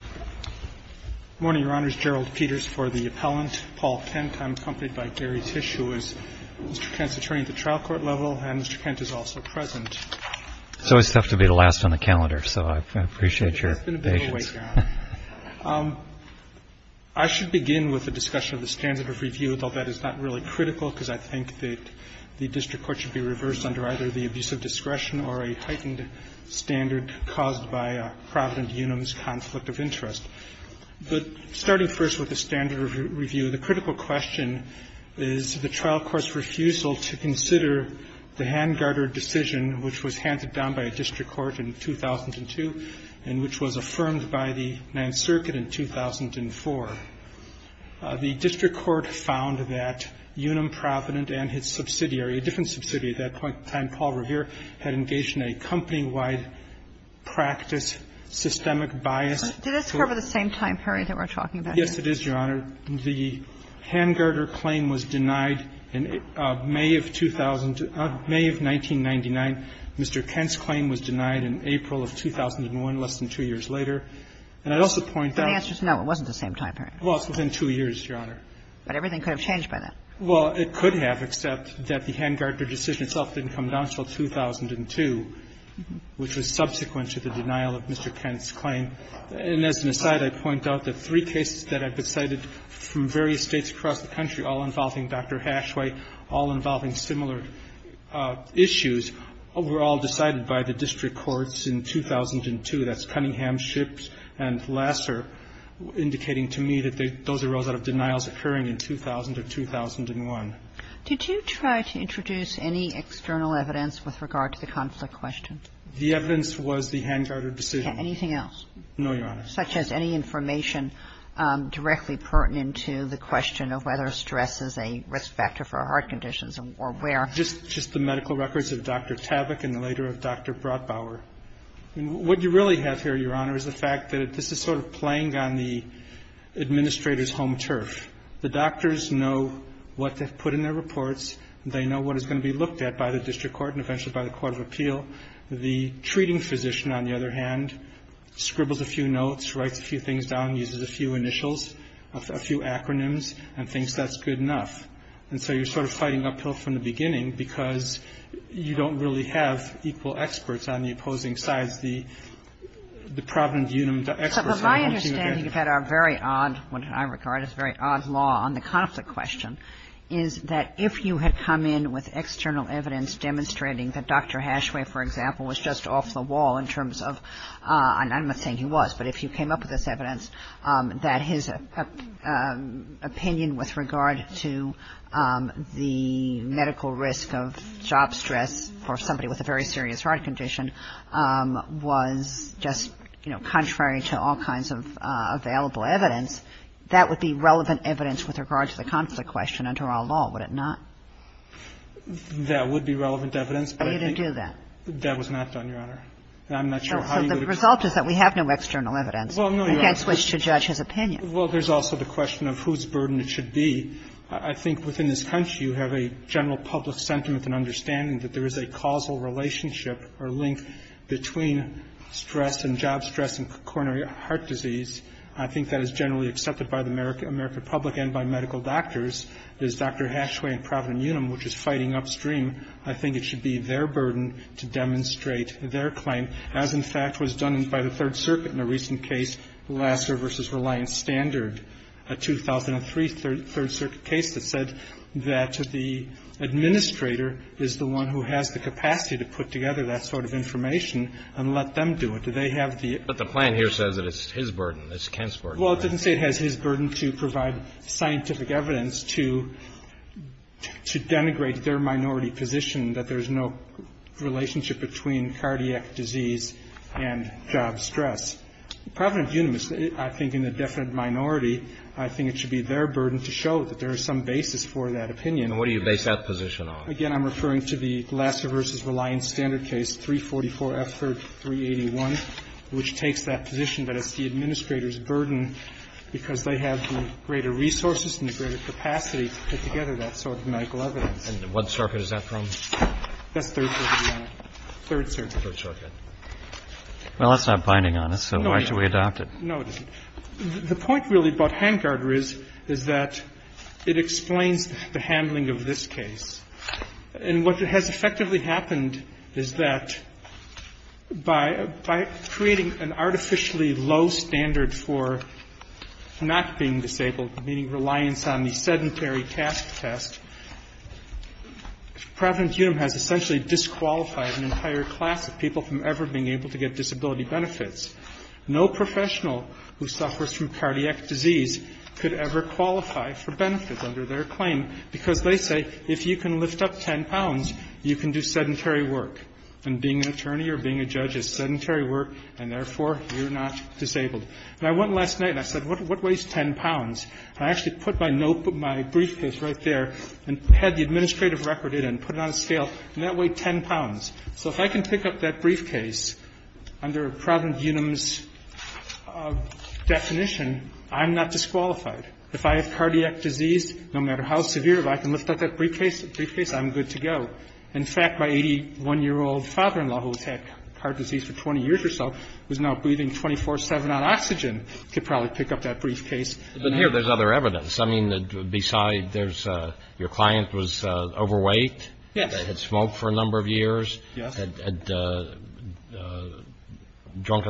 GERALD PETERS Morning, Your Honors. Gerald Peters for the appellant. Paul Kent. I'm accompanied by Gary Tisch, who is Mr. Kent's attorney at the trial court level, and Mr. Kent is also present. GARY TISCH It's always tough to be the last on the calendar, so I appreciate your patience. GERALD PETERS It's been a bit of a wait now. I should begin with a discussion of the standard of review, although that is not really critical, because I think that the district court should be reversed under either the abuse of discretion or a heightened standard caused by Provident-Unum's conflict of interest. But starting first with the standard of review, the critical question is the trial court's refusal to consider the hand-guarded decision which was handed down by a district court in 2002 and which was affirmed by the Ninth Circuit in 2004. The district court found that Unum-Provident and its subsidiary, a different subsidiary at that time, Paul Revere, had engaged in a company-wide practice systemic bias. Kagan. Do you think it's part of the same time period that we're talking about here? PETERS Yes, it is, Your Honor. The hand-guarded claim was denied in May of 2000 to May of 1999. Mr. Kent's claim was denied in April of 2001, less than two years later. And I'd also point out that the answer is no, it wasn't the same time period. PETERS It was within two years, Your Honor. Kagan. But everything could have changed by then. PETERS Well, it could have, except that the hand-guarded decision itself didn't come down until 2002, which was subsequent to the denial of Mr. Kent's claim. And as an aside, I'd point out that three cases that I've cited from various states across the country, all involving Dr. Hashway, all involving similar issues, were all decided by the district courts in 2002. That's Cunningham, Shipps, and Lasser, indicating to me that those arose out of And I'd also point out that the hand-guarded decision itself didn't come down until May of 2001. Kagan. Did you try to introduce any external evidence with regard to the conflict question? PETERS The evidence was the hand-guarded decision. Kagan. Anything else? PETERS No, Your Honor. Kagan. Such as any information directly pertinent to the question of whether stress is a risk factor for heart conditions or where? PETERS Just the medical records of Dr. Tavick and the later of Dr. Brotbauer. I mean, what you really have here, Your Honor, is the fact that this is sort of playing on the administrator's home turf. The doctors know what to put in their reports. They know what is going to be looked at by the district court and eventually by the court of appeal. The treating physician, on the other hand, scribbles a few notes, writes a few things down, uses a few initials, a few acronyms, and thinks that's good enough. And so you're sort of fighting uphill from the beginning because you don't really have equal experts on the opposing sides. The provident unum experts on the opposing sides. Kagan. Kagan. So my understanding of that are very odd, what I regard as very odd law on the conflict question, is that if you had come in with external evidence demonstrating that Dr. Hashway, for example, was just off the wall in terms of, and I'm not saying he was, but if you came up with this evidence, that his opinion with regard to the very serious heart condition was just, you know, contrary to all kinds of available evidence, that would be relevant evidence with regard to the conflict question under our law, would it not? That would be relevant evidence. But he didn't do that. That was not done, Your Honor. I'm not sure how you would explain that. So the result is that we have no external evidence. Well, no, Your Honor. We can't switch to judge his opinion. Well, there's also the question of whose burden it should be. I think within this country you have a general public sentiment and understanding that there is a causal relationship or link between stress and job stress and coronary heart disease. I think that is generally accepted by the American public and by medical doctors. There's Dr. Hashway and Providen-Unum, which is fighting upstream. I think it should be their burden to demonstrate their claim, as in fact was done by the Third Circuit in a recent case, Lasser v. Reliance Standard, a 2003 Third Circuit case. The administrator is the one who has the capacity to put together that sort of information and let them do it. Do they have the ---- But the plan here says that it's his burden. It's Kent's burden. Well, it doesn't say it has his burden to provide scientific evidence to denigrate their minority position that there's no relationship between cardiac disease and job stress. Providen-Unum, I think in the definite minority, I think it should be their burden to show that there is some basis for that opinion. And what do you base that position on? Again, I'm referring to the Lasser v. Reliance Standard case, 344F381, which takes that position that it's the administrator's burden because they have the greater resources and the greater capacity to put together that sort of medical evidence. And what circuit is that from? That's Third Circuit, Your Honor. Third Circuit. Third Circuit. Well, that's not binding on us, so why should we adopt it? No, it isn't. The point really about Hangard is that it explains the handling of this case. And what has effectively happened is that by creating an artificially low standard for not being disabled, meaning reliance on the sedentary task test, Providen-Unum has essentially disqualified an entire class of people from ever being able to get disability benefits. No professional who suffers from cardiac disease could ever qualify for benefits under their claim because they say if you can lift up 10 pounds, you can do sedentary work. And being an attorney or being a judge is sedentary work, and therefore, you're not disabled. And I went last night and I said, what weighs 10 pounds? And I actually put my note, my briefcase right there and had the administrative record in it and put it on a scale, and that weighed 10 pounds. So if I can pick up that briefcase under Providen-Unum's definition, I'm not disqualified. If I have cardiac disease, no matter how severe, if I can lift up that briefcase, I'm good to go. In fact, my 81-year-old father-in-law, who's had heart disease for 20 years or so, who's now breathing 24-7 on oxygen, could probably pick up that briefcase. But here there's other evidence. I mean, beside there's your client was overweight. Yes. Had smoked for a number of years. Yes. Had drunk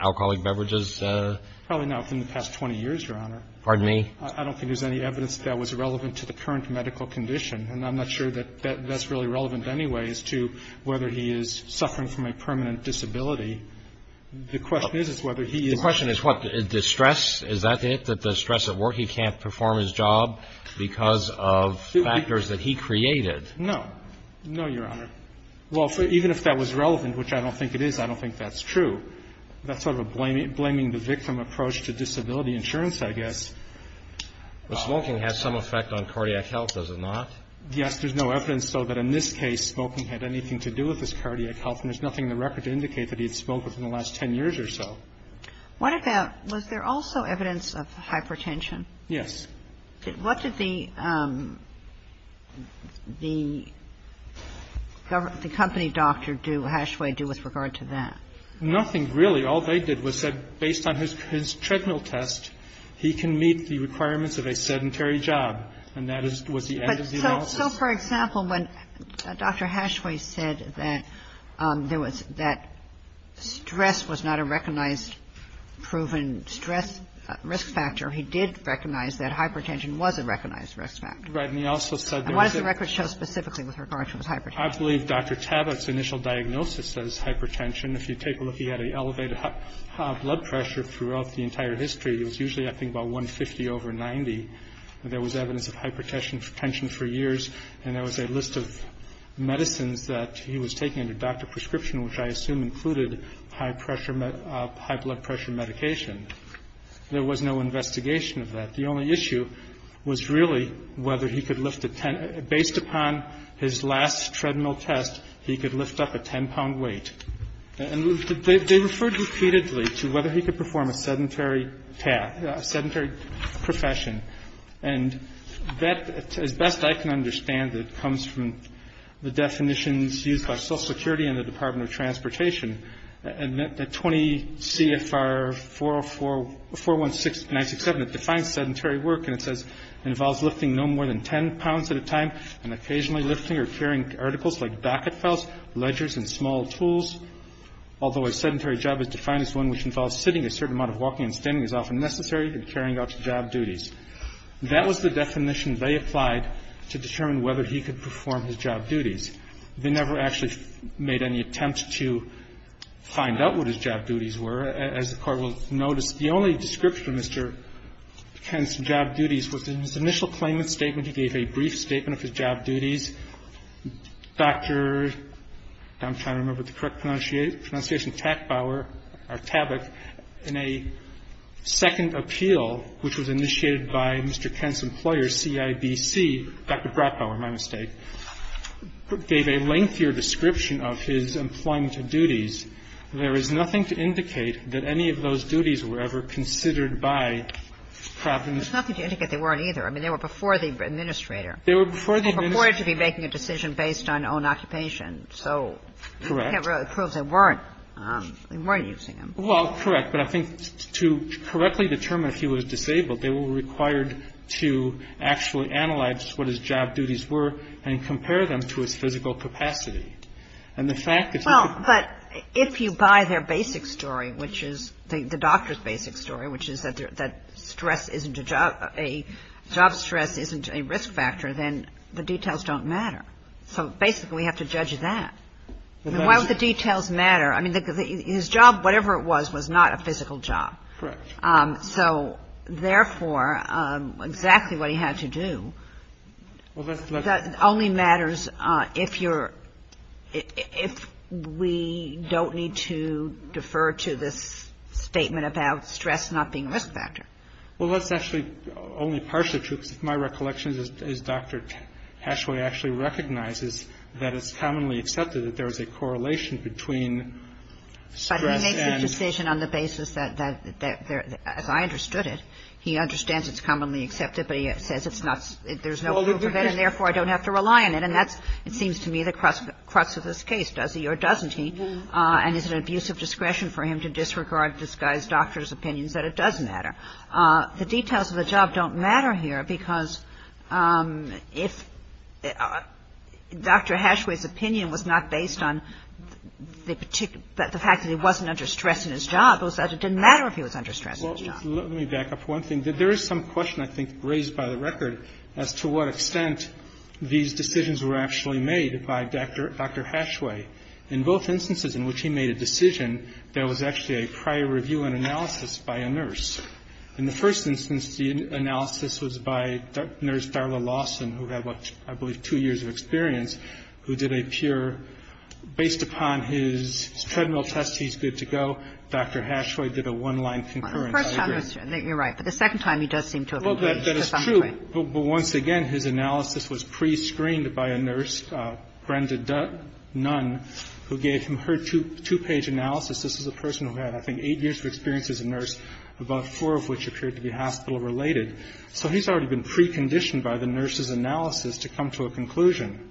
alcoholic beverages. Probably not within the past 20 years, Your Honor. Pardon me? I don't think there's any evidence that that was relevant to the current medical condition, and I'm not sure that that's really relevant anyway as to whether he is suffering from a permanent disability. The question is whether he is. The question is what? The stress? Is that it, that the stress at work? He can't perform his job because of factors that he created. No. No, Your Honor. Well, even if that was relevant, which I don't think it is, I don't think that's true. That's sort of a blaming the victim approach to disability insurance, I guess. But smoking has some effect on cardiac health, does it not? Yes. There's no evidence, though, that in this case smoking had anything to do with his cardiac health, and there's nothing in the record to indicate that he had smoked within the last 10 years or so. Was there also evidence of hypertension? Yes. What did the company doctor do, Hashway, do with regard to that? Nothing, really. All they did was said based on his treadmill test, he can meet the requirements of a sedentary job, and that was the end of the analysis. So, for example, when Dr. Hashway said that there was that stress was not a recognized proven stress risk factor, he did recognize that hypertension was a recognized risk factor. Right. And he also said there was a – And what does the record show specifically with regard to his hypertension? I believe Dr. Tabak's initial diagnosis says hypertension. If you take a look, he had an elevated high blood pressure throughout the entire history. It was usually, I think, about 150 over 90. There was evidence of hypertension for years, and there was a list of medicines that he was taking under doctor prescription, which I assume included high blood pressure medication. There was no investigation of that. The only issue was really whether he could lift a – based upon his last treadmill test, he could lift up a 10-pound weight. And they referred repeatedly to whether he could perform a sedentary task, a sedentary profession. And that, as best I can understand it, comes from the definitions used by Social Security and the Department of Transportation. The 20 CFR 416967, it defines sedentary work, and it says it involves lifting no more than 10 pounds at a time and occasionally lifting or carrying articles like docket files, ledgers, and small tools, although a sedentary job is defined as one which involves sitting a certain amount of walking and standing as often necessary and carrying out job duties. That was the definition they applied to determine whether he could perform his job duties. They never actually made any attempt to find out what his job duties were. As the Court will notice, the only description of Mr. Penn's job duties was in his initial claimant statement. He gave a brief statement of his job duties. Dr. I'm trying to remember the correct pronunciation, Takbauer, or Tabak, in a second appeal which was initiated by Mr. Penn's employer, CIBC, Dr. Bratbauer, my mistake, gave a lengthier description of his employment duties. There is nothing to indicate that any of those duties were ever considered by Providence. Kagan. Well, there's nothing to indicate they weren't either. I mean, they were before the administrator. They were before the administrator. They were purported to be making a decision based on own occupation. Correct. So we can't really prove they weren't. They weren't using them. Well, correct, but I think to correctly determine if he was disabled, they were required to actually analyze what his job duties were and compare them to his physical capacity. And the fact that he could Well, but if you buy their basic story, which is the doctor's basic story, which is that stress isn't a job, job stress isn't a risk factor, then the details don't matter. So basically we have to judge that. Why would the details matter? I mean, his job, whatever it was, was not a physical job. Correct. So, therefore, exactly what he had to do only matters if you're If we don't need to defer to this statement about stress not being a risk factor. Well, that's actually only partially true because my recollection is Dr. Hashway actually recognizes that it's commonly accepted that there is a correlation between stress and But he makes the decision on the basis that, as I understood it, he understands it's commonly accepted, but he says it's not, there's no proof of it and, therefore, I don't have to rely on it. Then that's, it seems to me, the crux of this case. Does he or doesn't he? And is it an abuse of discretion for him to disregard this guy's doctor's opinions that it does matter? The details of the job don't matter here because if Dr. Hashway's opinion was not based on the particular the fact that he wasn't under stress in his job, it was that it didn't matter if he was under stress in his job. Well, let me back up one thing. There is some question I think raised by the record as to what extent these decisions were actually made by Dr. Hashway. In both instances in which he made a decision, there was actually a prior review and analysis by a nurse. In the first instance, the analysis was by Nurse Darla Lawson, who had, I believe, two years of experience, who did a pure, based upon his treadmill test, he's good to go. Dr. Hashway did a one-line concurrence. You're right. But the second time, he does seem to have engaged. Well, that is true. But once again, his analysis was prescreened by a nurse, Brenda Dunn, who gave him her two-page analysis. This is a person who had, I think, eight years of experience as a nurse, about four of which appeared to be hospital-related. So he's already been preconditioned by the nurse's analysis to come to a conclusion.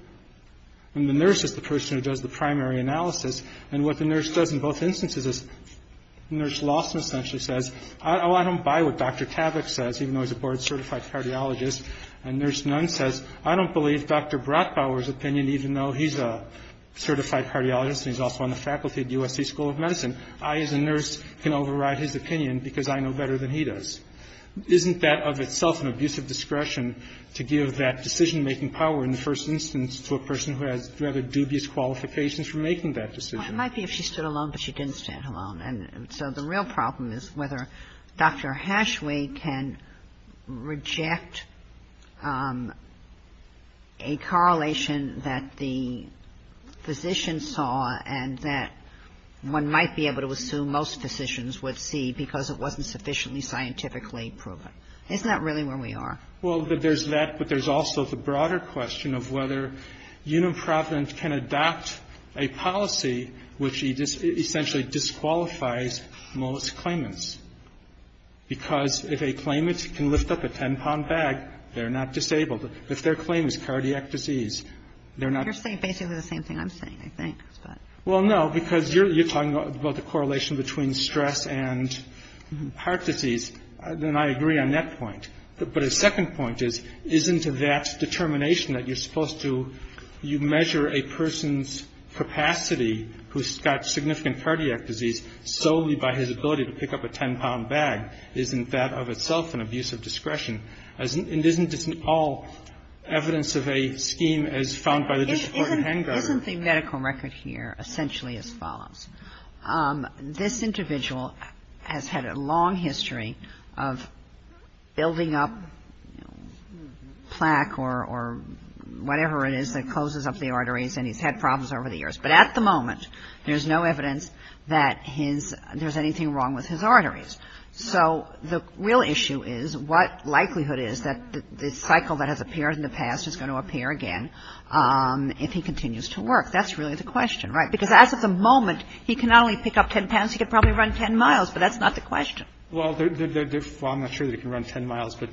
And the nurse is the person who does the primary analysis. And what the nurse does in both instances is Nurse Lawson essentially says, oh, I don't buy what Dr. Tavich says, even though he's a board-certified cardiologist. And Nurse Dunn says, I don't believe Dr. Brachbauer's opinion, even though he's a certified cardiologist and he's also on the faculty at USC School of Medicine. I, as a nurse, can override his opinion because I know better than he does. Isn't that of itself an abusive discretion to give that decision-making power in the first instance to a person who has rather dubious qualifications for making that decision? Kagan. Well, it might be if she stood alone, but she didn't stand alone. And so the real problem is whether Dr. Hashway can reject a correlation that the physician saw and that one might be able to assume most physicians would see because it wasn't sufficiently scientifically proven. Isn't that really where we are? Well, there's that, but there's also the broader question of whether Unimprovement can adopt a policy which essentially disqualifies most claimants because if a claimant can lift up a 10-pound bag, they're not disabled. If their claim is cardiac disease, they're not disabled. You're saying basically the same thing I'm saying, I think. Well, no, because you're talking about the correlation between stress and heart disease, and I agree on that point. But a second point is, isn't that determination that you're supposed to, you measure a person's capacity who's got significant cardiac disease solely by his ability to pick up a 10-pound bag, isn't that of itself an abuse of discretion? And isn't this all evidence of a scheme as found by the Disciplinary Handbook? This individual has had a long history of building up plaque or whatever it is that closes up the arteries, and he's had problems over the years. But at the moment, there's no evidence that there's anything wrong with his arteries. So the real issue is what likelihood is that the cycle that has appeared in the past is going to appear again if he continues to work? That's really the question, right? Because as of the moment, he can not only pick up 10 pounds, he can probably run 10 miles. But that's not the question. Well, I'm not sure that he can run 10 miles, but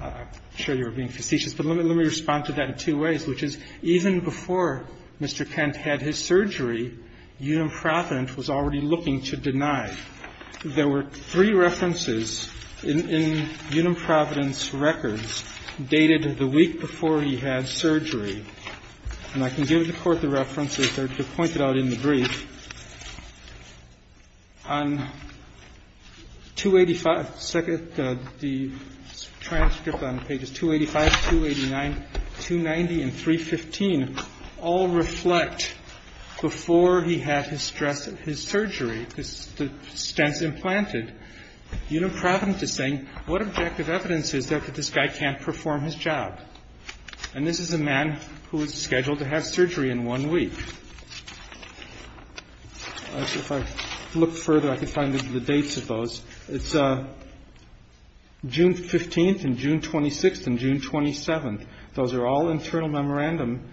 I'm sure you're being facetious. But let me respond to that in two ways, which is even before Mr. Kent had his surgery, Unum Providence was already looking to deny. There were three references in Unum Providence records dated the week before he had surgery. And I can give the Court the references that are pointed out in the brief. On 285, the transcript on pages 285, 289, 290, and 315 all reflect before he had his surgery, the stents implanted, Unum Providence is saying, what objective evidence is there that this guy can't perform his job? And this is a man who is scheduled to have surgery in one week. If I look further, I can find the dates of those. It's June 15th and June 26th and June 27th. Those are all internal memorandum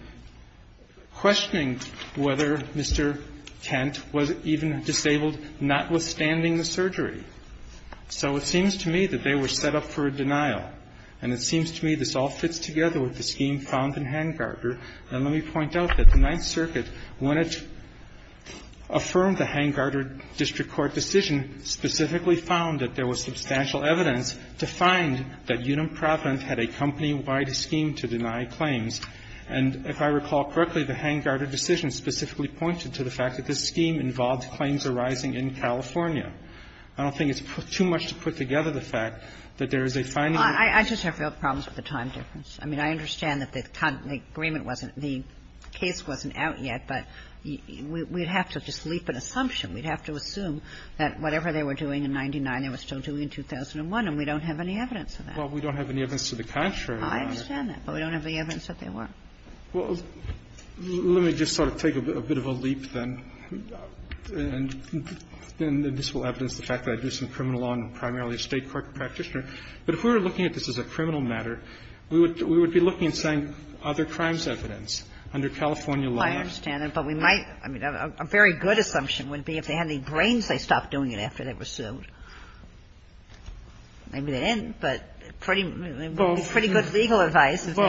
questioning whether Mr. Kent was even disabled, notwithstanding the surgery. So it seems to me that they were set up for a denial. And it seems to me this all fits together with the scheme found in Hangarter. And let me point out that the Ninth Circuit, when it affirmed the Hangarter district court decision, specifically found that there was substantial evidence to find that Unum Providence had a company-wide scheme to deny claims. And if I recall correctly, the Hangarter decision specifically pointed to the fact that this scheme involved claims arising in California. I don't think it's too much to put together the fact that there is a finding in the case. I just have real problems with the time difference. I mean, I understand that the agreement wasn't the case wasn't out yet, but we'd have to just leap an assumption. We'd have to assume that whatever they were doing in 99, they were still doing in 2001. And we don't have any evidence of that. Well, we don't have any evidence to the contrary. I understand that. But we don't have any evidence that they were. Well, let me just sort of take a bit of a leap, then, and this will evidence the fact that I do some criminal law and I'm primarily a State court practitioner. But if we were looking at this as a criminal matter, we would be looking and saying other crimes evidence under California law. I understand that. But we might – I mean, a very good assumption would be if they had any brains, they stopped doing it after they were sued. Maybe they didn't, but pretty good legal advice if they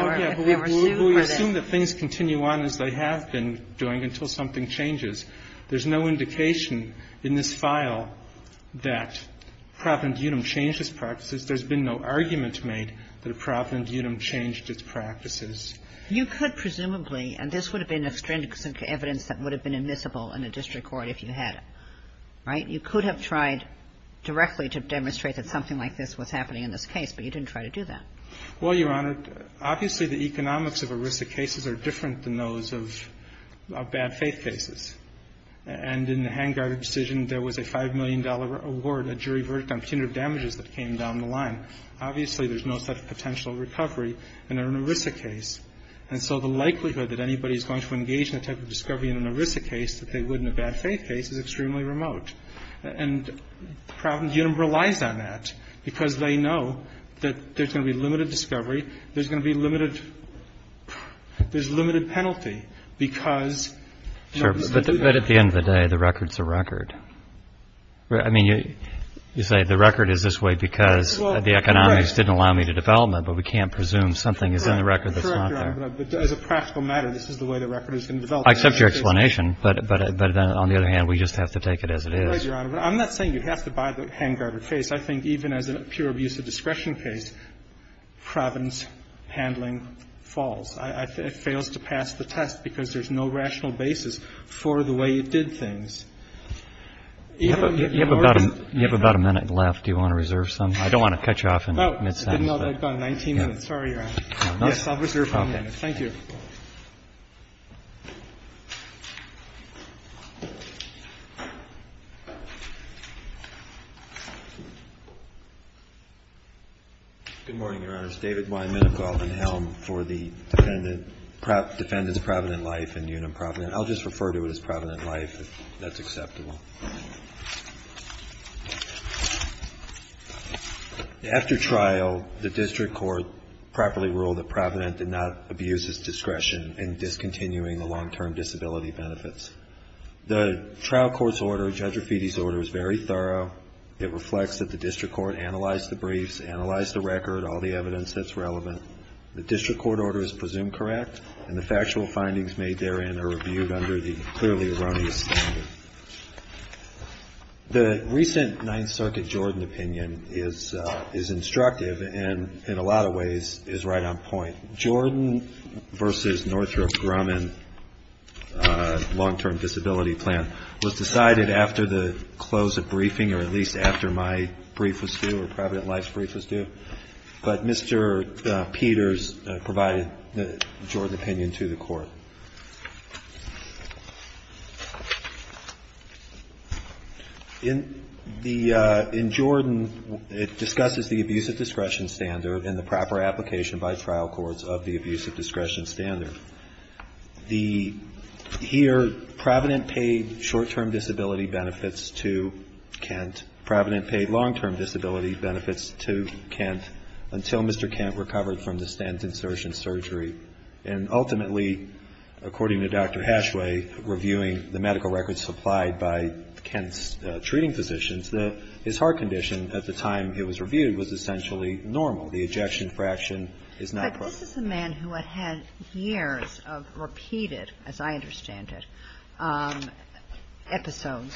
were sued. Well, we assume that things continue on as they have been doing until something changes. There's no indication in this file that Providence-Utahm changed its practices. There's been no argument made that Providence-Utahm changed its practices. You could presumably, and this would have been extrinsic evidence that would have been admissible in a district court if you had it, right? You could have tried directly to demonstrate that something like this was happening in this case, but you didn't try to do that. Well, Your Honor, obviously, the economics of ERISA cases are different than those of bad faith cases. And in the Hangar decision, there was a $5 million award, a jury verdict on punitive damages that came down the line. Obviously, there's no such potential recovery in an ERISA case. And so the likelihood that anybody is going to engage in a type of discovery in an ERISA case that they would in a bad faith case is extremely remote. And Providence-Utahm relies on that because they know that there's going to be limited discovery. There's going to be limited – there's limited penalty because – But at the end of the day, the record's a record. I mean, you say the record is this way because the economics didn't allow me to develop it, but we can't presume something is in the record that's not there. Correct, Your Honor. But as a practical matter, this is the way the record is going to develop. Well, I accept your explanation, but on the other hand, we just have to take it as it is. I'm not saying you have to buy the Hangar case. I think even as a pure abuse of discretion case, Providence handling falls. It fails to pass the test because there's no rational basis for the way it did things. You have about a minute left. Do you want to reserve some? I don't want to cut you off in mid-sentence. I've got 19 minutes. Sorry, Your Honor. Yes, I'll reserve one minute. Thank you. Good morning, Your Honors. David Weinman, a call to the helm for the defendant, defendants of Provident Life and Union Provident. I'll just refer to it as Provident Life if that's acceptable. After trial, the district court properly ruled that Provident did not abuse his discretion in discontinuing the long-term disability benefits. The trial court's order, Judge Rafiti's order, is very thorough. It reflects that the district court analyzed the briefs, analyzed the record, all the evidence that's relevant. The district court order is presumed correct, and the factual findings made therein are reviewed under the clearly erroneous standard. The recent Ninth Circuit Jordan opinion is instructive and, in a lot of ways, is right on point. Jordan v. Northrop Grumman long-term disability plan was decided after the close of briefing or at least after my brief was due or Provident Life's brief was due. But Mr. Peters provided the Jordan opinion to the court. In the – in Jordan, it discusses the abuse of discretion standard and the proper application by trial courts of the abuse of discretion standard. The – here, Provident paid short-term disability benefits to Kent. Provident paid long-term disability benefits to Kent until Mr. Kent recovered from the stent insertion surgery. And ultimately, according to Dr. Hashway, reviewing the medical records supplied by Kent's treating physicians, his heart condition at the time it was reviewed was essentially normal. The ejection fraction is not proper. But this is a man who had had years of repeated, as I understand it, episodes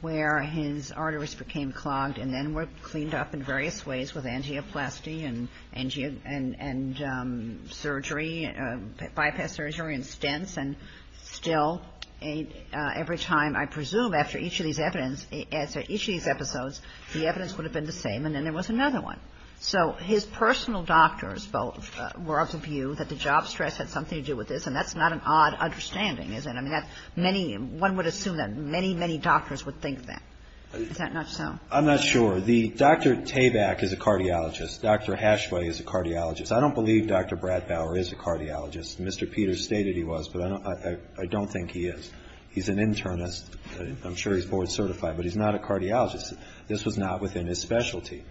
where his arteries became clogged and then were cleaned up in various ways with angioplasty and surgery, bypass surgery and stents, and still every time, I presume after each of these evidence – after each of these episodes, the evidence would have been the same and then there was another one. So his personal doctors both were of the view that the job stress had something to do with this, and that's not an odd understanding, is it? I mean, that's many – one would assume that many, many doctors would think that. Is that not so? I'm not sure. The – Dr. Tabak is a cardiologist. Dr. Hashway is a cardiologist. I don't believe Dr. Bradbauer is a cardiologist. Mr. Peters stated he was, but I don't think he is. He's an internist. I'm sure he's board certified, but he's not a cardiologist. This was not within his specialty.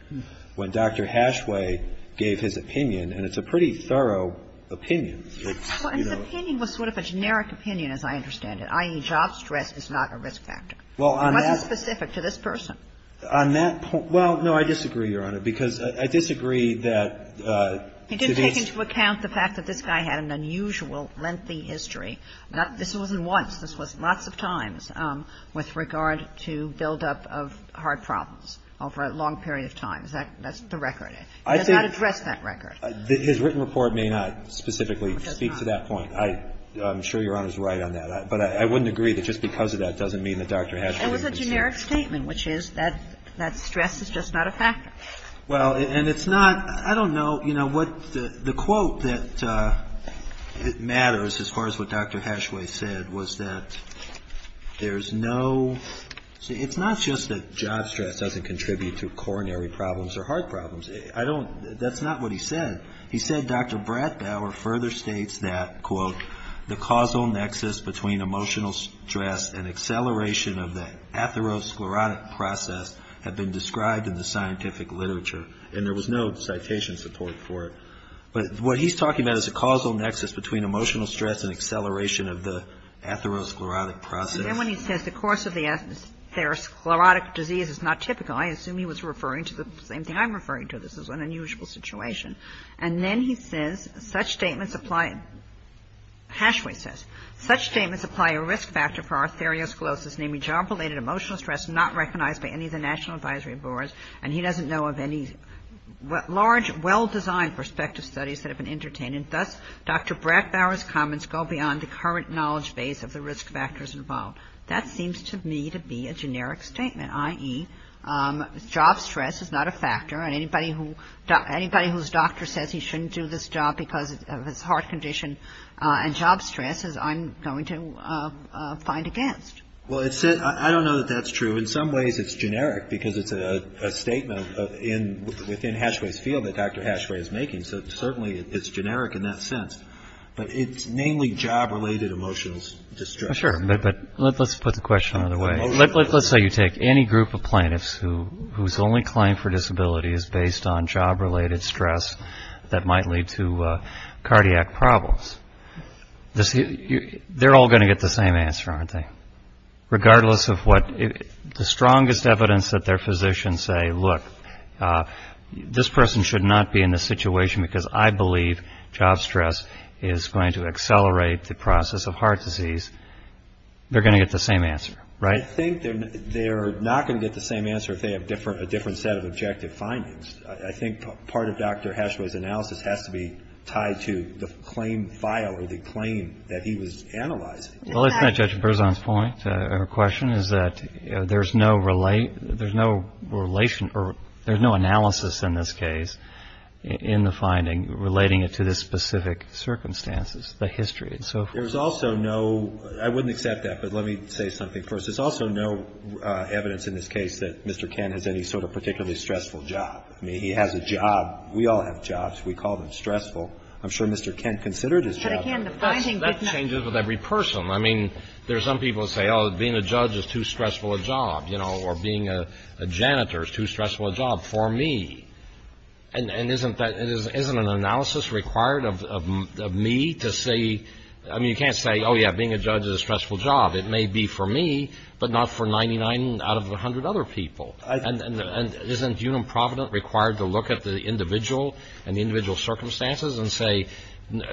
When Dr. Hashway gave his opinion, and it's a pretty thorough opinion. Well, his opinion was sort of a generic opinion, as I understand it, i.e., job stress is not a risk factor. Well, on that – It wasn't specific to this person. On that point – well, no, I disagree, Your Honor, because I disagree that the – He didn't take into account the fact that this guy had an unusual, lengthy history. This wasn't once. This was lots of times with regard to buildup of heart problems over a long period of time. That's the record. He does not address that record. I think his written report may not specifically speak to that point. It does not. I'm sure Your Honor is right on that. But I wouldn't agree that just because of that doesn't mean that Dr. Hashway didn't disagree. It was a generic statement, which is that stress is just not a factor. Well, and it's not – I don't know, you know, what the quote that matters as far as what Dr. Hashway said was that there's no – see, it's not just that job stress doesn't contribute to coronary problems or heart problems. I don't – that's not what he said. He said Dr. Bratbauer further states that, quote, the causal nexus between emotional stress and acceleration of the atherosclerotic process had been described in the scientific literature. And there was no citation support for it. But what he's talking about is a causal nexus between emotional stress and acceleration of the atherosclerotic process. And then when he says the course of the atherosclerotic disease is not typical, I assume he was referring to the same thing I'm referring to. This is an unusual situation. And then he says such statements apply – Hashway says such statements apply a risk factor for atherosclerosis, namely job-related emotional stress not recognized by any of the National Advisory Boards. And he doesn't know of any large, well-designed prospective studies that have been entertained. And thus, Dr. Bratbauer's comments go beyond the current knowledge base of the risk factors involved. That seems to me to be a generic statement, i.e., job stress is not a factor, and anybody whose doctor says he shouldn't do this job because of his heart condition and job stress is, I'm going to find against. Well, I don't know that that's true. In some ways it's generic because it's a statement within Hashway's field that Dr. Hashway is making. So certainly it's generic in that sense. But it's mainly job-related emotional distress. Sure, but let's put the question another way. Let's say you take any group of plaintiffs whose only claim for disability is based on job-related stress that might lead to cardiac problems. They're all going to get the same answer, aren't they? Regardless of what the strongest evidence that their physicians say, look, this person should not be in this situation because I believe job stress is going to accelerate the process of heart disease. They're going to get the same answer, right? I think they're not going to get the same answer if they have a different set of objective findings. I think part of Dr. Hashway's analysis has to be tied to the claim file or the claim that he was analyzing. Well, it's not Judge Berzon's point or question. It's that there's no relation or there's no analysis in this case in the finding relating it to the specific circumstances, the history and so forth. There's also no, I wouldn't accept that, but let me say something first. There's also no evidence in this case that Mr. Kent has any sort of particularly stressful job. I mean, he has a job. We all have jobs. We call them stressful. I'm sure Mr. Kent considered his job stressful. That changes with every person. I mean, there's some people who say, oh, being a judge is too stressful a job, you know, or being a janitor is too stressful a job for me. And isn't that an analysis required of me to say, I mean, you can't say, oh, yeah, being a judge is a stressful job. It may be for me, but not for 99 out of 100 other people. And isn't Unum Provident required to look at the individual and the individual circumstances and say,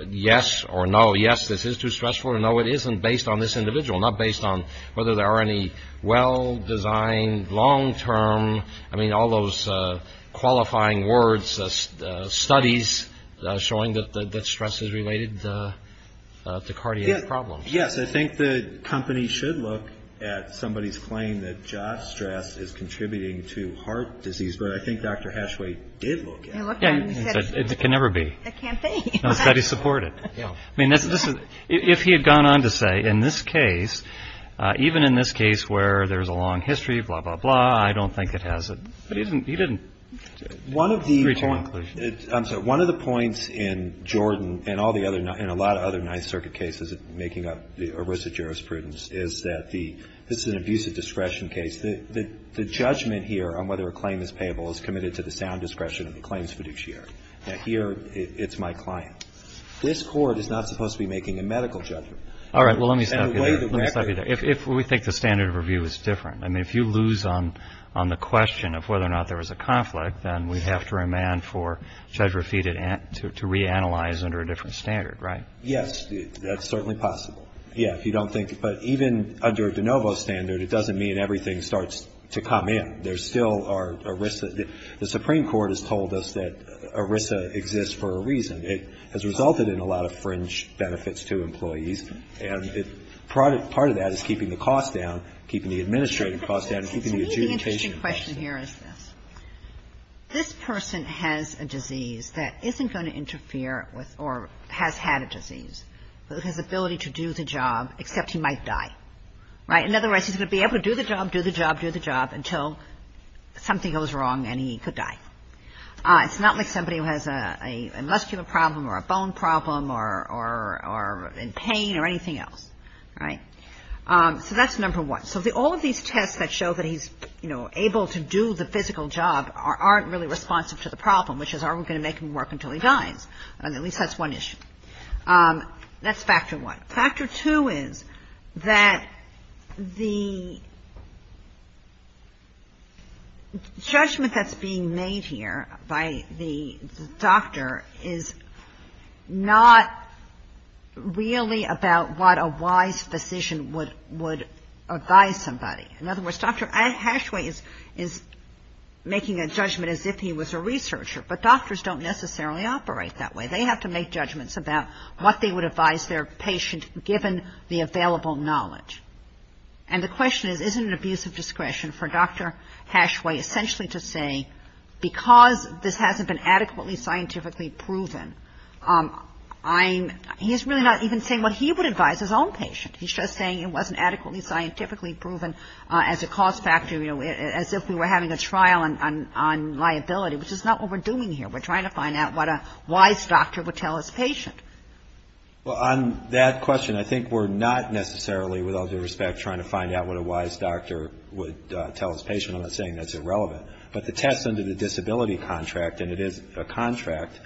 yes or no, yes, this is too stressful or no, it isn't, based on this individual, not based on whether there are any well-designed, long-term, I mean, all those qualifying words, studies showing that stress is related to cardiac problems. Yes, I think the company should look at somebody's claim that job stress is contributing to heart disease, but I think Dr. Hashway did look at it. It can never be. It can't be. It's got to be supported. I mean, if he had gone on to say, in this case, even in this case where there's a long history, blah, blah, blah, I don't think it has a, he didn't reach a conclusion. I'm sorry. One of the points in Jordan and all the other, in a lot of other Ninth Circuit cases, making up a risk of jurisprudence, is that the, this is an abusive discretion case. The judgment here on whether a claim is payable is committed to the sound discretion of the claims fiduciary. Now, here, it's my client. This Court is not supposed to be making a medical judgment. All right. Well, let me stop you there. Let me stop you there. If we think the standard of review is different, I mean, if you lose on the question of whether or not there was a conflict, then we have to remand for Judge Raffiti to reanalyze under a different standard, right? Yes. That's certainly possible. Yeah. If you don't think, but even under de novo standard, it doesn't mean everything starts to come in. There still are risks. The Supreme Court has told us that ERISA exists for a reason. It has resulted in a lot of fringe benefits to employees, And part of that is keeping the cost down, keeping the administrative cost down, keeping the adjudication cost down. The interesting question here is this. This person has a disease that isn't going to interfere with or has had a disease, but has the ability to do the job, except he might die. Right? In other words, he's going to be able to do the job, do the job, do the job, until something goes wrong and he could die. It's not like somebody who has a muscular problem or a bone problem or in pain or anything else. Right? So that's number one. So all of these tests that show that he's, you know, able to do the physical job aren't really responsive to the problem, which is are we going to make him work until he dies? At least that's one issue. That's factor one. Factor two is that the judgment that's being made here by the doctor is not really about what a wise physician would advise somebody. In other words, Dr. Ashway is making a judgment as if he was a researcher, but doctors don't necessarily operate that way. They have to make judgments about what they would advise their patient, given the available knowledge. And the question is, isn't it an abuse of discretion for Dr. Ashway essentially to say, because this hasn't been adequately scientifically proven, I'm — he's really not even saying what he would advise his own patient. He's just saying it wasn't adequately scientifically proven as a cause factor, you know, as if we were having a trial on liability, which is not what we're doing here. We're trying to find out what a wise doctor would tell his patient. Well, on that question, I think we're not necessarily, with all due respect, trying to find out what a wise doctor would tell his patient. I'm not saying that's irrelevant. But the test under the disability contract, and it is a contract,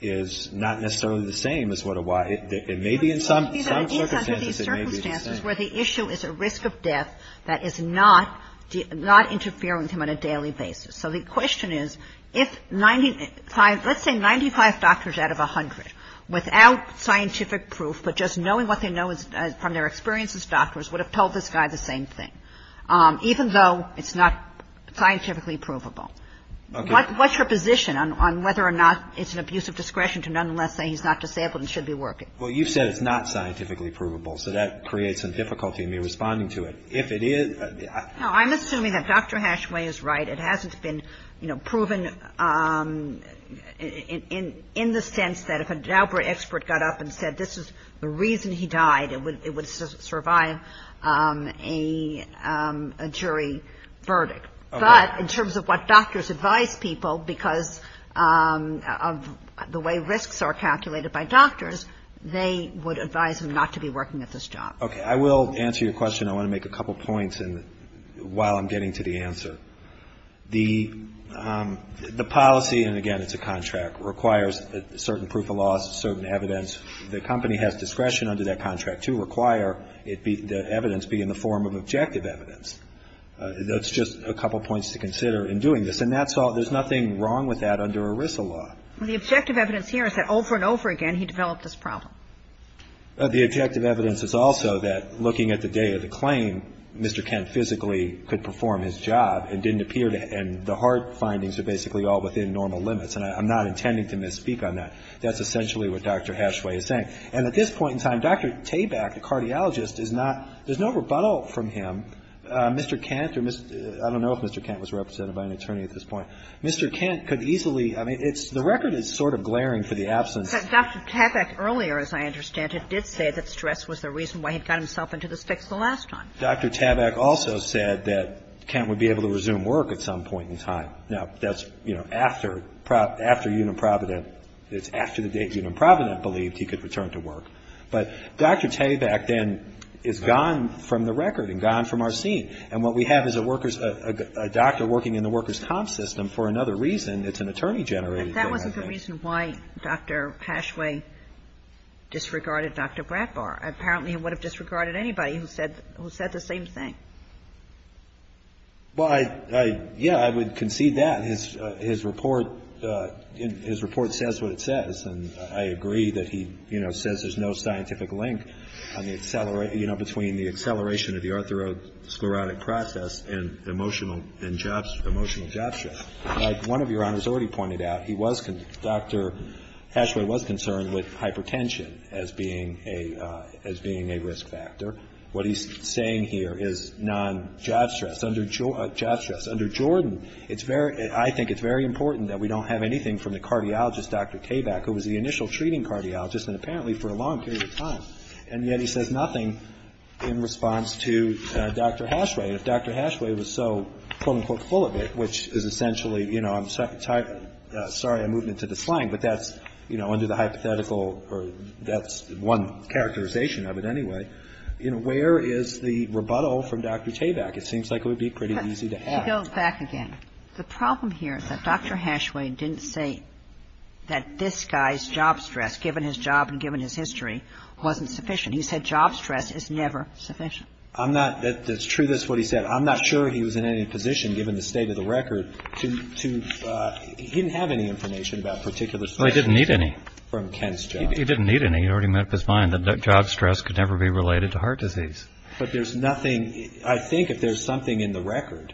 is not necessarily the same as what a wise — it may be in some circumstances, it may be the same. Under these circumstances where the issue is a risk of death that is not interfering with him on a daily basis. So the question is, if 95 — let's say 95 doctors out of 100, without scientific proof, but just knowing what they know from their experience as doctors, would have told this guy the same thing, even though it's not scientifically provable. What's your position on whether or not it's an abuse of discretion to nonetheless say he's not disabled and should be working? Well, you've said it's not scientifically provable, so that creates some difficulty in me responding to it. If it is — No, I'm assuming that Dr. Hashway is right. It hasn't been, you know, proven in the sense that if an expert got up and said this is the reason he died, it would survive a jury verdict. But in terms of what doctors advise people, because of the way risks are calculated by doctors, they would advise him not to be working at this job. I will answer your question. I want to make a couple points while I'm getting to the answer. The policy — and again, it's a contract — requires certain proof of laws, certain evidence. The company has discretion under that contract to require the evidence be in the form of objective evidence. That's just a couple points to consider in doing this. And that's all — there's nothing wrong with that under ERISA law. The objective evidence here is that over and over again he developed this problem. The objective evidence is also that looking at the day of the claim, Mr. Kent physically could perform his job and didn't appear to — and the heart findings are basically all within normal limits. And I'm not intending to misspeak on that. That's essentially what Dr. Hashway is saying. And at this point in time, Dr. Tabak, the cardiologist, is not — there's no rebuttal from him. Mr. Kent or — I don't know if Mr. Kent was represented by an attorney at this point. Mr. Kent could easily — I mean, it's — the record is sort of glaring for the absence. But Dr. Tabak earlier, as I understand it, did say that stress was the reason why he got himself into this fix the last time. Dr. Tabak also said that Kent would be able to resume work at some point in time. Now, that's, you know, after — after Uniprovident. It's after the day Uniprovident believed he could return to work. But Dr. Tabak then is gone from the record and gone from our scene. And what we have is a worker's — a doctor working in the worker's comp system for another reason. It's an attorney-generated thing. But that wasn't the reason why Dr. Pashway disregarded Dr. Bradbar. Apparently, he would have disregarded anybody who said — who said the same thing. Well, I — yeah, I would concede that. His — his report — his report says what it says. And I agree that he, you know, says there's no scientific link on the — you know, between the acceleration of the arthrosclerotic process and emotional — and jobs — emotional job shift. Like one of Your Honors already pointed out, he was — Dr. Pashway was concerned with hypertension as being a — as being a risk factor. What he's saying here is non-job stress, under — job stress. Under Jordan, it's very — I think it's very important that we don't have anything from the cardiologist, Dr. Tabak, who was the initial treating cardiologist, and apparently for a long period of time. And yet he says nothing in response to Dr. Pashway. And if Dr. Pashway was so, quote, unquote, full of it, which is essentially, you know, I'm — sorry, I'm moving into the slang, but that's, you know, under the hypothetical or that's one characterization of it anyway, you know, where is the rebuttal from Dr. Tabak? It seems like it would be pretty easy to have. She goes back again. The problem here is that Dr. Pashway didn't say that this guy's job stress, given his job and given his history, wasn't sufficient. He said job stress is never sufficient. I'm not — that's true. That's what he said. I'm not sure he was in any position, given the state of the record, to — he didn't have any information about particular stress. Well, he didn't need any. From Kent's job. He didn't need any. He already made up his mind that job stress could never be related to heart disease. But there's nothing — I think if there's something in the record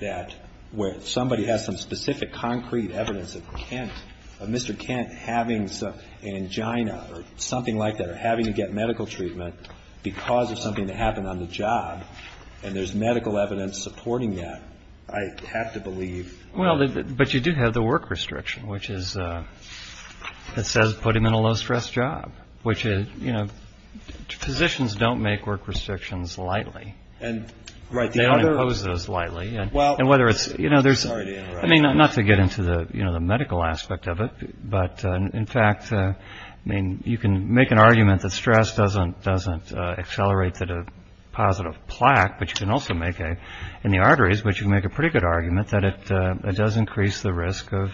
that — where somebody has some specific concrete evidence of Kent — of Mr. Kent having an angina or something like that or having to get medical treatment because of something that happened on the job, and there's medical evidence supporting that, I have to believe — Well, but you do have the work restriction, which is — that says put him in a low-stress job, which is — you know, physicians don't make work restrictions lightly. And — Right. They don't impose those lightly. Well — And whether it's — you know, there's — Sorry to interrupt. I mean, not to get into the, you know, the medical aspect of it, but in fact, I mean, you can make an argument that stress doesn't accelerate to the positive plaque, but you can also make a — in the arteries, but you can make a pretty good argument that it does increase the risk of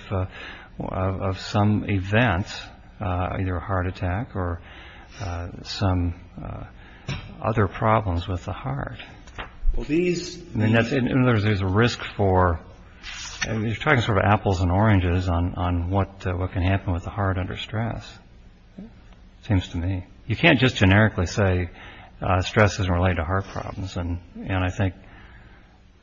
some event, either a heart attack or some other problems with the heart. Well, these — I mean, there's a risk for — you're talking sort of apples and oranges on what can happen with the heart under stress, it seems to me. You can't just generically say stress isn't related to heart problems and, you know, I think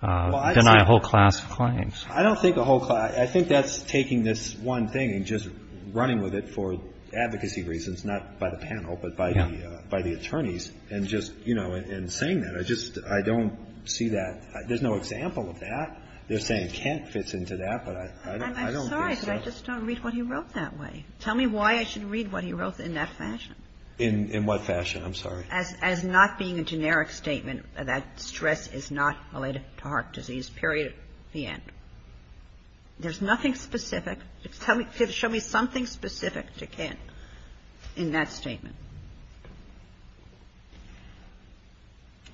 deny a whole class of claims. I don't think a whole class — I think that's taking this one thing and just running with it for advocacy reasons, not by the panel, but by the attorneys, and just, you know, and saying that. I just — I don't see that — there's no example of that. They're saying Kent fits into that, but I don't think so. I'm sorry, but I just don't read what he wrote that way. Tell me why I should read what he wrote in that fashion. In what fashion? I'm sorry. As not being a generic statement that stress is not related to heart disease, period, the end. There's nothing specific. Show me something specific to Kent in that statement.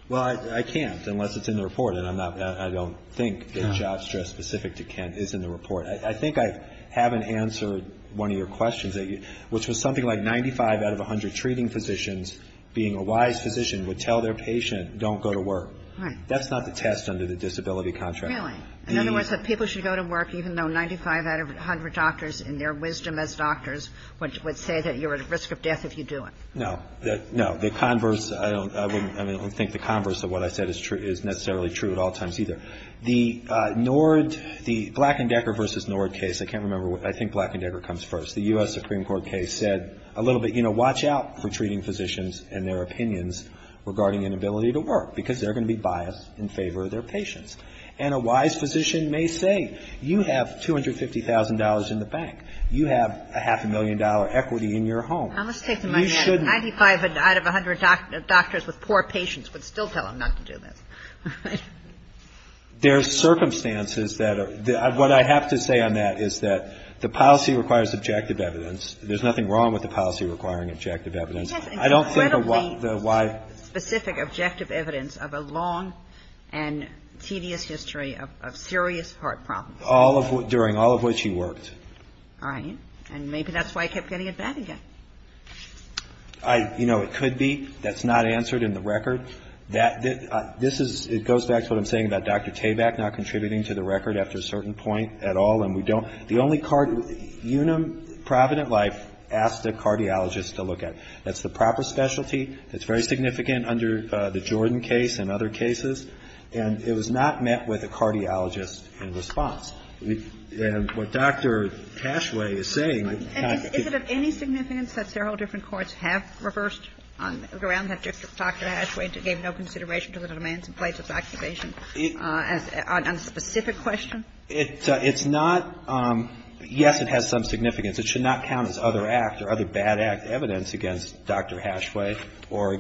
Well, I can't unless it's in the report, and I'm not — I don't think that job stress specific to Kent is in the report. I think I haven't answered one of your questions, which was something like 95 out of 100 treating physicians being a wise physician would tell their patient, don't go to work. Right. That's not the test under the disability contract. Really? In other words, that people should go to work even though 95 out of 100 doctors, in their wisdom as doctors, would say that you're at risk of death if you do it. No. No. The converse — I don't — I mean, I don't think the converse of what I said is necessarily true at all times either. The Nord — the Black and Decker versus Nord case, I can't remember — I think Black and Decker comes first. The U.S. Supreme Court case said a little bit, you know, watch out for treating physicians and their opinions regarding inability to work, because they're going to be biased in favor of their patients. And a wise physician may say, you have $250,000 in the bank. You have a half-a-million-dollar equity in your home. You shouldn't — Now, let's take to my head. 95 out of 100 doctors with poor patients would still tell them not to do this. Right? There's circumstances that are — what I have to say on that is that the policy requires objective evidence. There's nothing wrong with the policy requiring objective evidence. I don't think a wise — of serious heart problems. All of — during all of which he worked. Right. And maybe that's why he kept getting it back again. I — you know, it could be. That's not answered in the record. That — this is — it goes back to what I'm saying about Dr. Tabak not contributing to the record after a certain point at all. And we don't — the only card — Unum Provident Life asked a cardiologist to look at it. That's the proper specialty. It's very significant under the Jordan case and other cases. And it was not met with a cardiologist in response. And what Dr. Hashway is saying — And is it of any significance that several different courts have reversed around that Dr. Hashway and gave no consideration to the demands in place of the accusation on a specific question? It's not — yes, it has some significance. It should not count as other act or other bad act evidence against Dr. Hashway or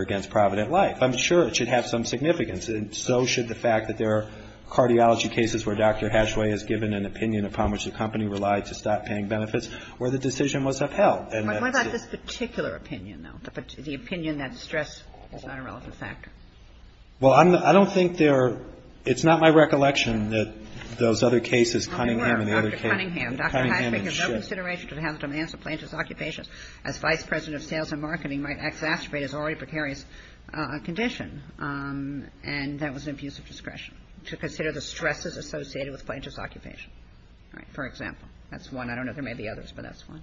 — against Provident Life. I'm sure it should have some significance, and so should the fact that there are cardiology cases where Dr. Hashway has given an opinion upon which the company relied to stop paying benefits, where the decision was upheld. What about this particular opinion, though, the opinion that stress is not a relevant factor? Well, I'm — I don't think there — it's not my recollection that those other cases, Cunningham and the other cases — Oh, they were. Dr. Cunningham. Cunningham and Schiff. As Vice President of Sales and Marketing might exacerbate his already precarious condition, and that was an abuse of discretion to consider the stresses associated with plaintiff's occupation. All right. For example. That's one. I don't know if there may be others, but that's one.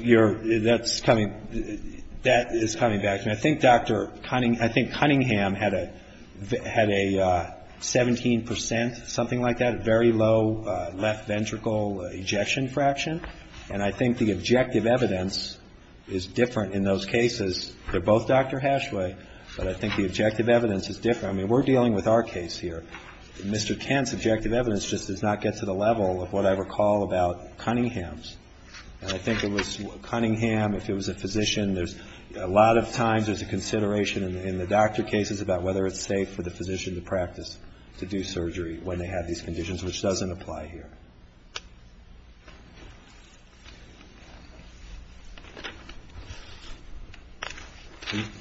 You're — that's coming — that is coming back to me. I think Dr. Cunningham — I think Cunningham had a 17 percent, something like that, very low left ventricle ejection fraction. And I think the objective evidence is different in those cases. They're both Dr. Hashway, but I think the objective evidence is different. I mean, we're dealing with our case here. Mr. Kent's objective evidence just does not get to the level of what I recall about Cunningham's. And I think it was Cunningham, if it was a physician, there's — a lot of times there's a consideration in the doctor cases about whether it's safe for the physician to practice, to do surgery when they have these conditions, which doesn't apply here.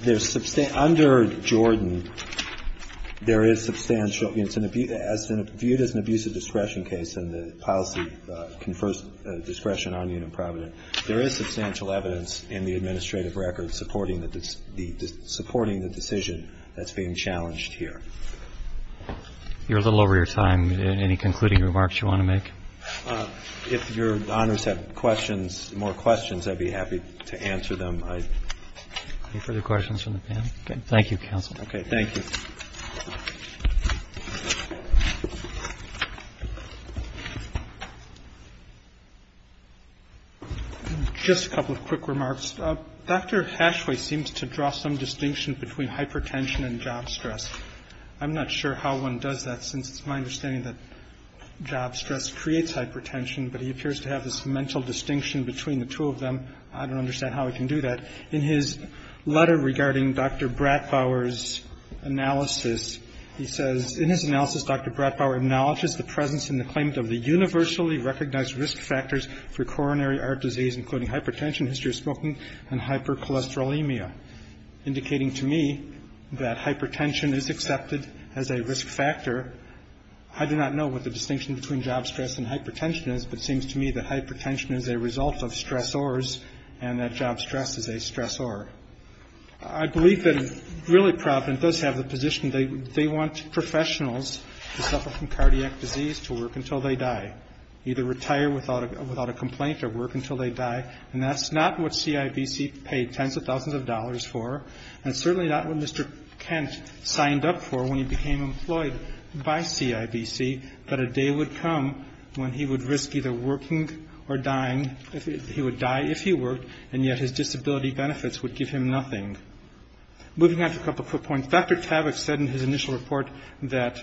There's — under Jordan, there is substantial — it's an — viewed as an abuse of discretion case, and the policy confers discretion on you in Providence. But there is substantial evidence in the administrative record supporting the decision that's being challenged here. You're a little over your time. Any concluding remarks you want to make? If Your Honors have questions, more questions, I'd be happy to answer them. Any further questions from the panel? Thank you, Counsel. Okay. Thank you. Just a couple of quick remarks. Dr. Hashway seems to draw some distinction between hypertension and job stress. I'm not sure how one does that, since it's my understanding that job stress creates hypertension, but he appears to have this mental distinction between the two of them. I don't understand how he can do that. In his letter regarding Dr. Bratbauer's analysis, he says — in his analysis, Dr. Bratbauer acknowledges the presence and the claim of the universally recognized risk factors for coronary heart disease, including hypertension, history of smoking, and hypercholesterolemia, indicating to me that hypertension is accepted as a risk factor. I do not know what the distinction between job stress and hypertension is, but it seems to me that hypertension is a result of stressors, and that job stress is a stressor. I believe that, really, Provident does have the position they want professionals to suffer from cardiac disease to work until they die, either retire without a complaint or work until they die, and that's not what CIBC paid tens of thousands of dollars for, and certainly not what Mr. Kent signed up for when he became employed by CIBC, that a day would come when he would risk either working or dying. He would die if he worked, and yet his disability benefits would give him nothing. Moving on to a couple quick points. Dr. Tavich said in his initial report that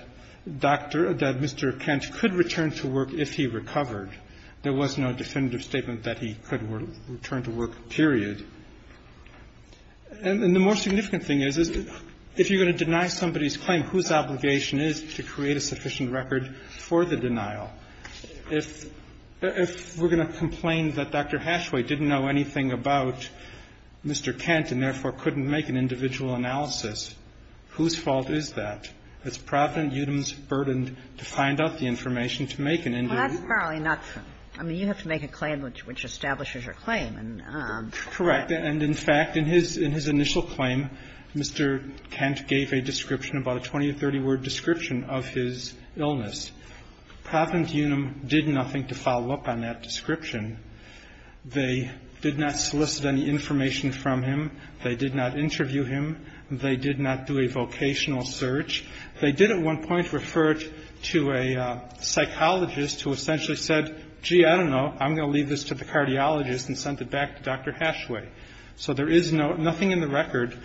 Mr. Kent could return to work if he recovered. There was no definitive statement that he could return to work, period. And the more significant thing is, if you're going to deny somebody's claim, whose obligation is it to create a sufficient record for the denial? If we're going to complain that Dr. Hashway didn't know anything about Mr. Kent and, therefore, couldn't make an individual analysis, whose fault is that? It's Provident Eudem's burden to find out the information to make an individual analysis. Kagan. I mean, you have to make a claim which establishes your claim. Correct. And, in fact, in his initial claim, Mr. Kent gave a description, about a 20 or 30-word description of his illness. Provident Eudem did nothing to follow up on that description. They did not solicit any information from him. They did not interview him. They did not do a vocational search. They did at one point refer it to a psychologist who essentially said, gee, I don't know. I'm going to leave this to the cardiologist and send it back to Dr. Hashway. So there is nothing in the record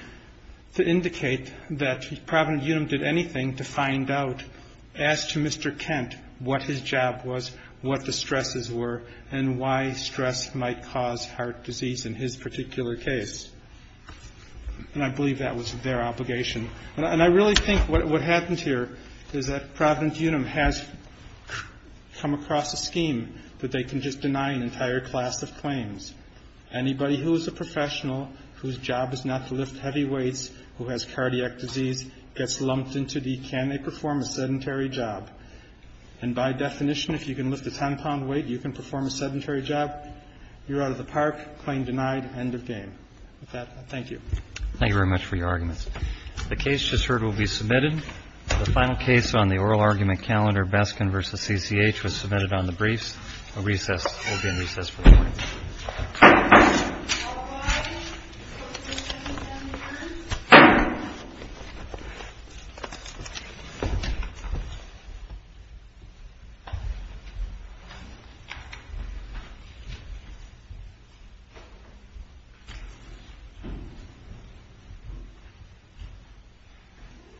to indicate that Provident Eudem did anything to find out, as to Mr. Kent, what his job was, what the stresses were, and why stress might cause heart disease in his particular case. And I believe that was their obligation. And I really think what happens here is that Provident Eudem has come across a scheme that they can just deny an entire class of claims. Anybody who is a professional whose job is not to lift heavy weights, who has cardiac disease, gets lumped into the can they perform a sedentary job. And by definition, if you can lift a 10-pound weight, you can perform a sedentary job. You're out of the park. Claim denied. End of game. With that, thank you. Thank you very much for your arguments. The case just heard will be submitted. The final case on the oral argument calendar, Baskin v. CCH, was submitted on the briefs. Recess. We'll be in recess for the morning.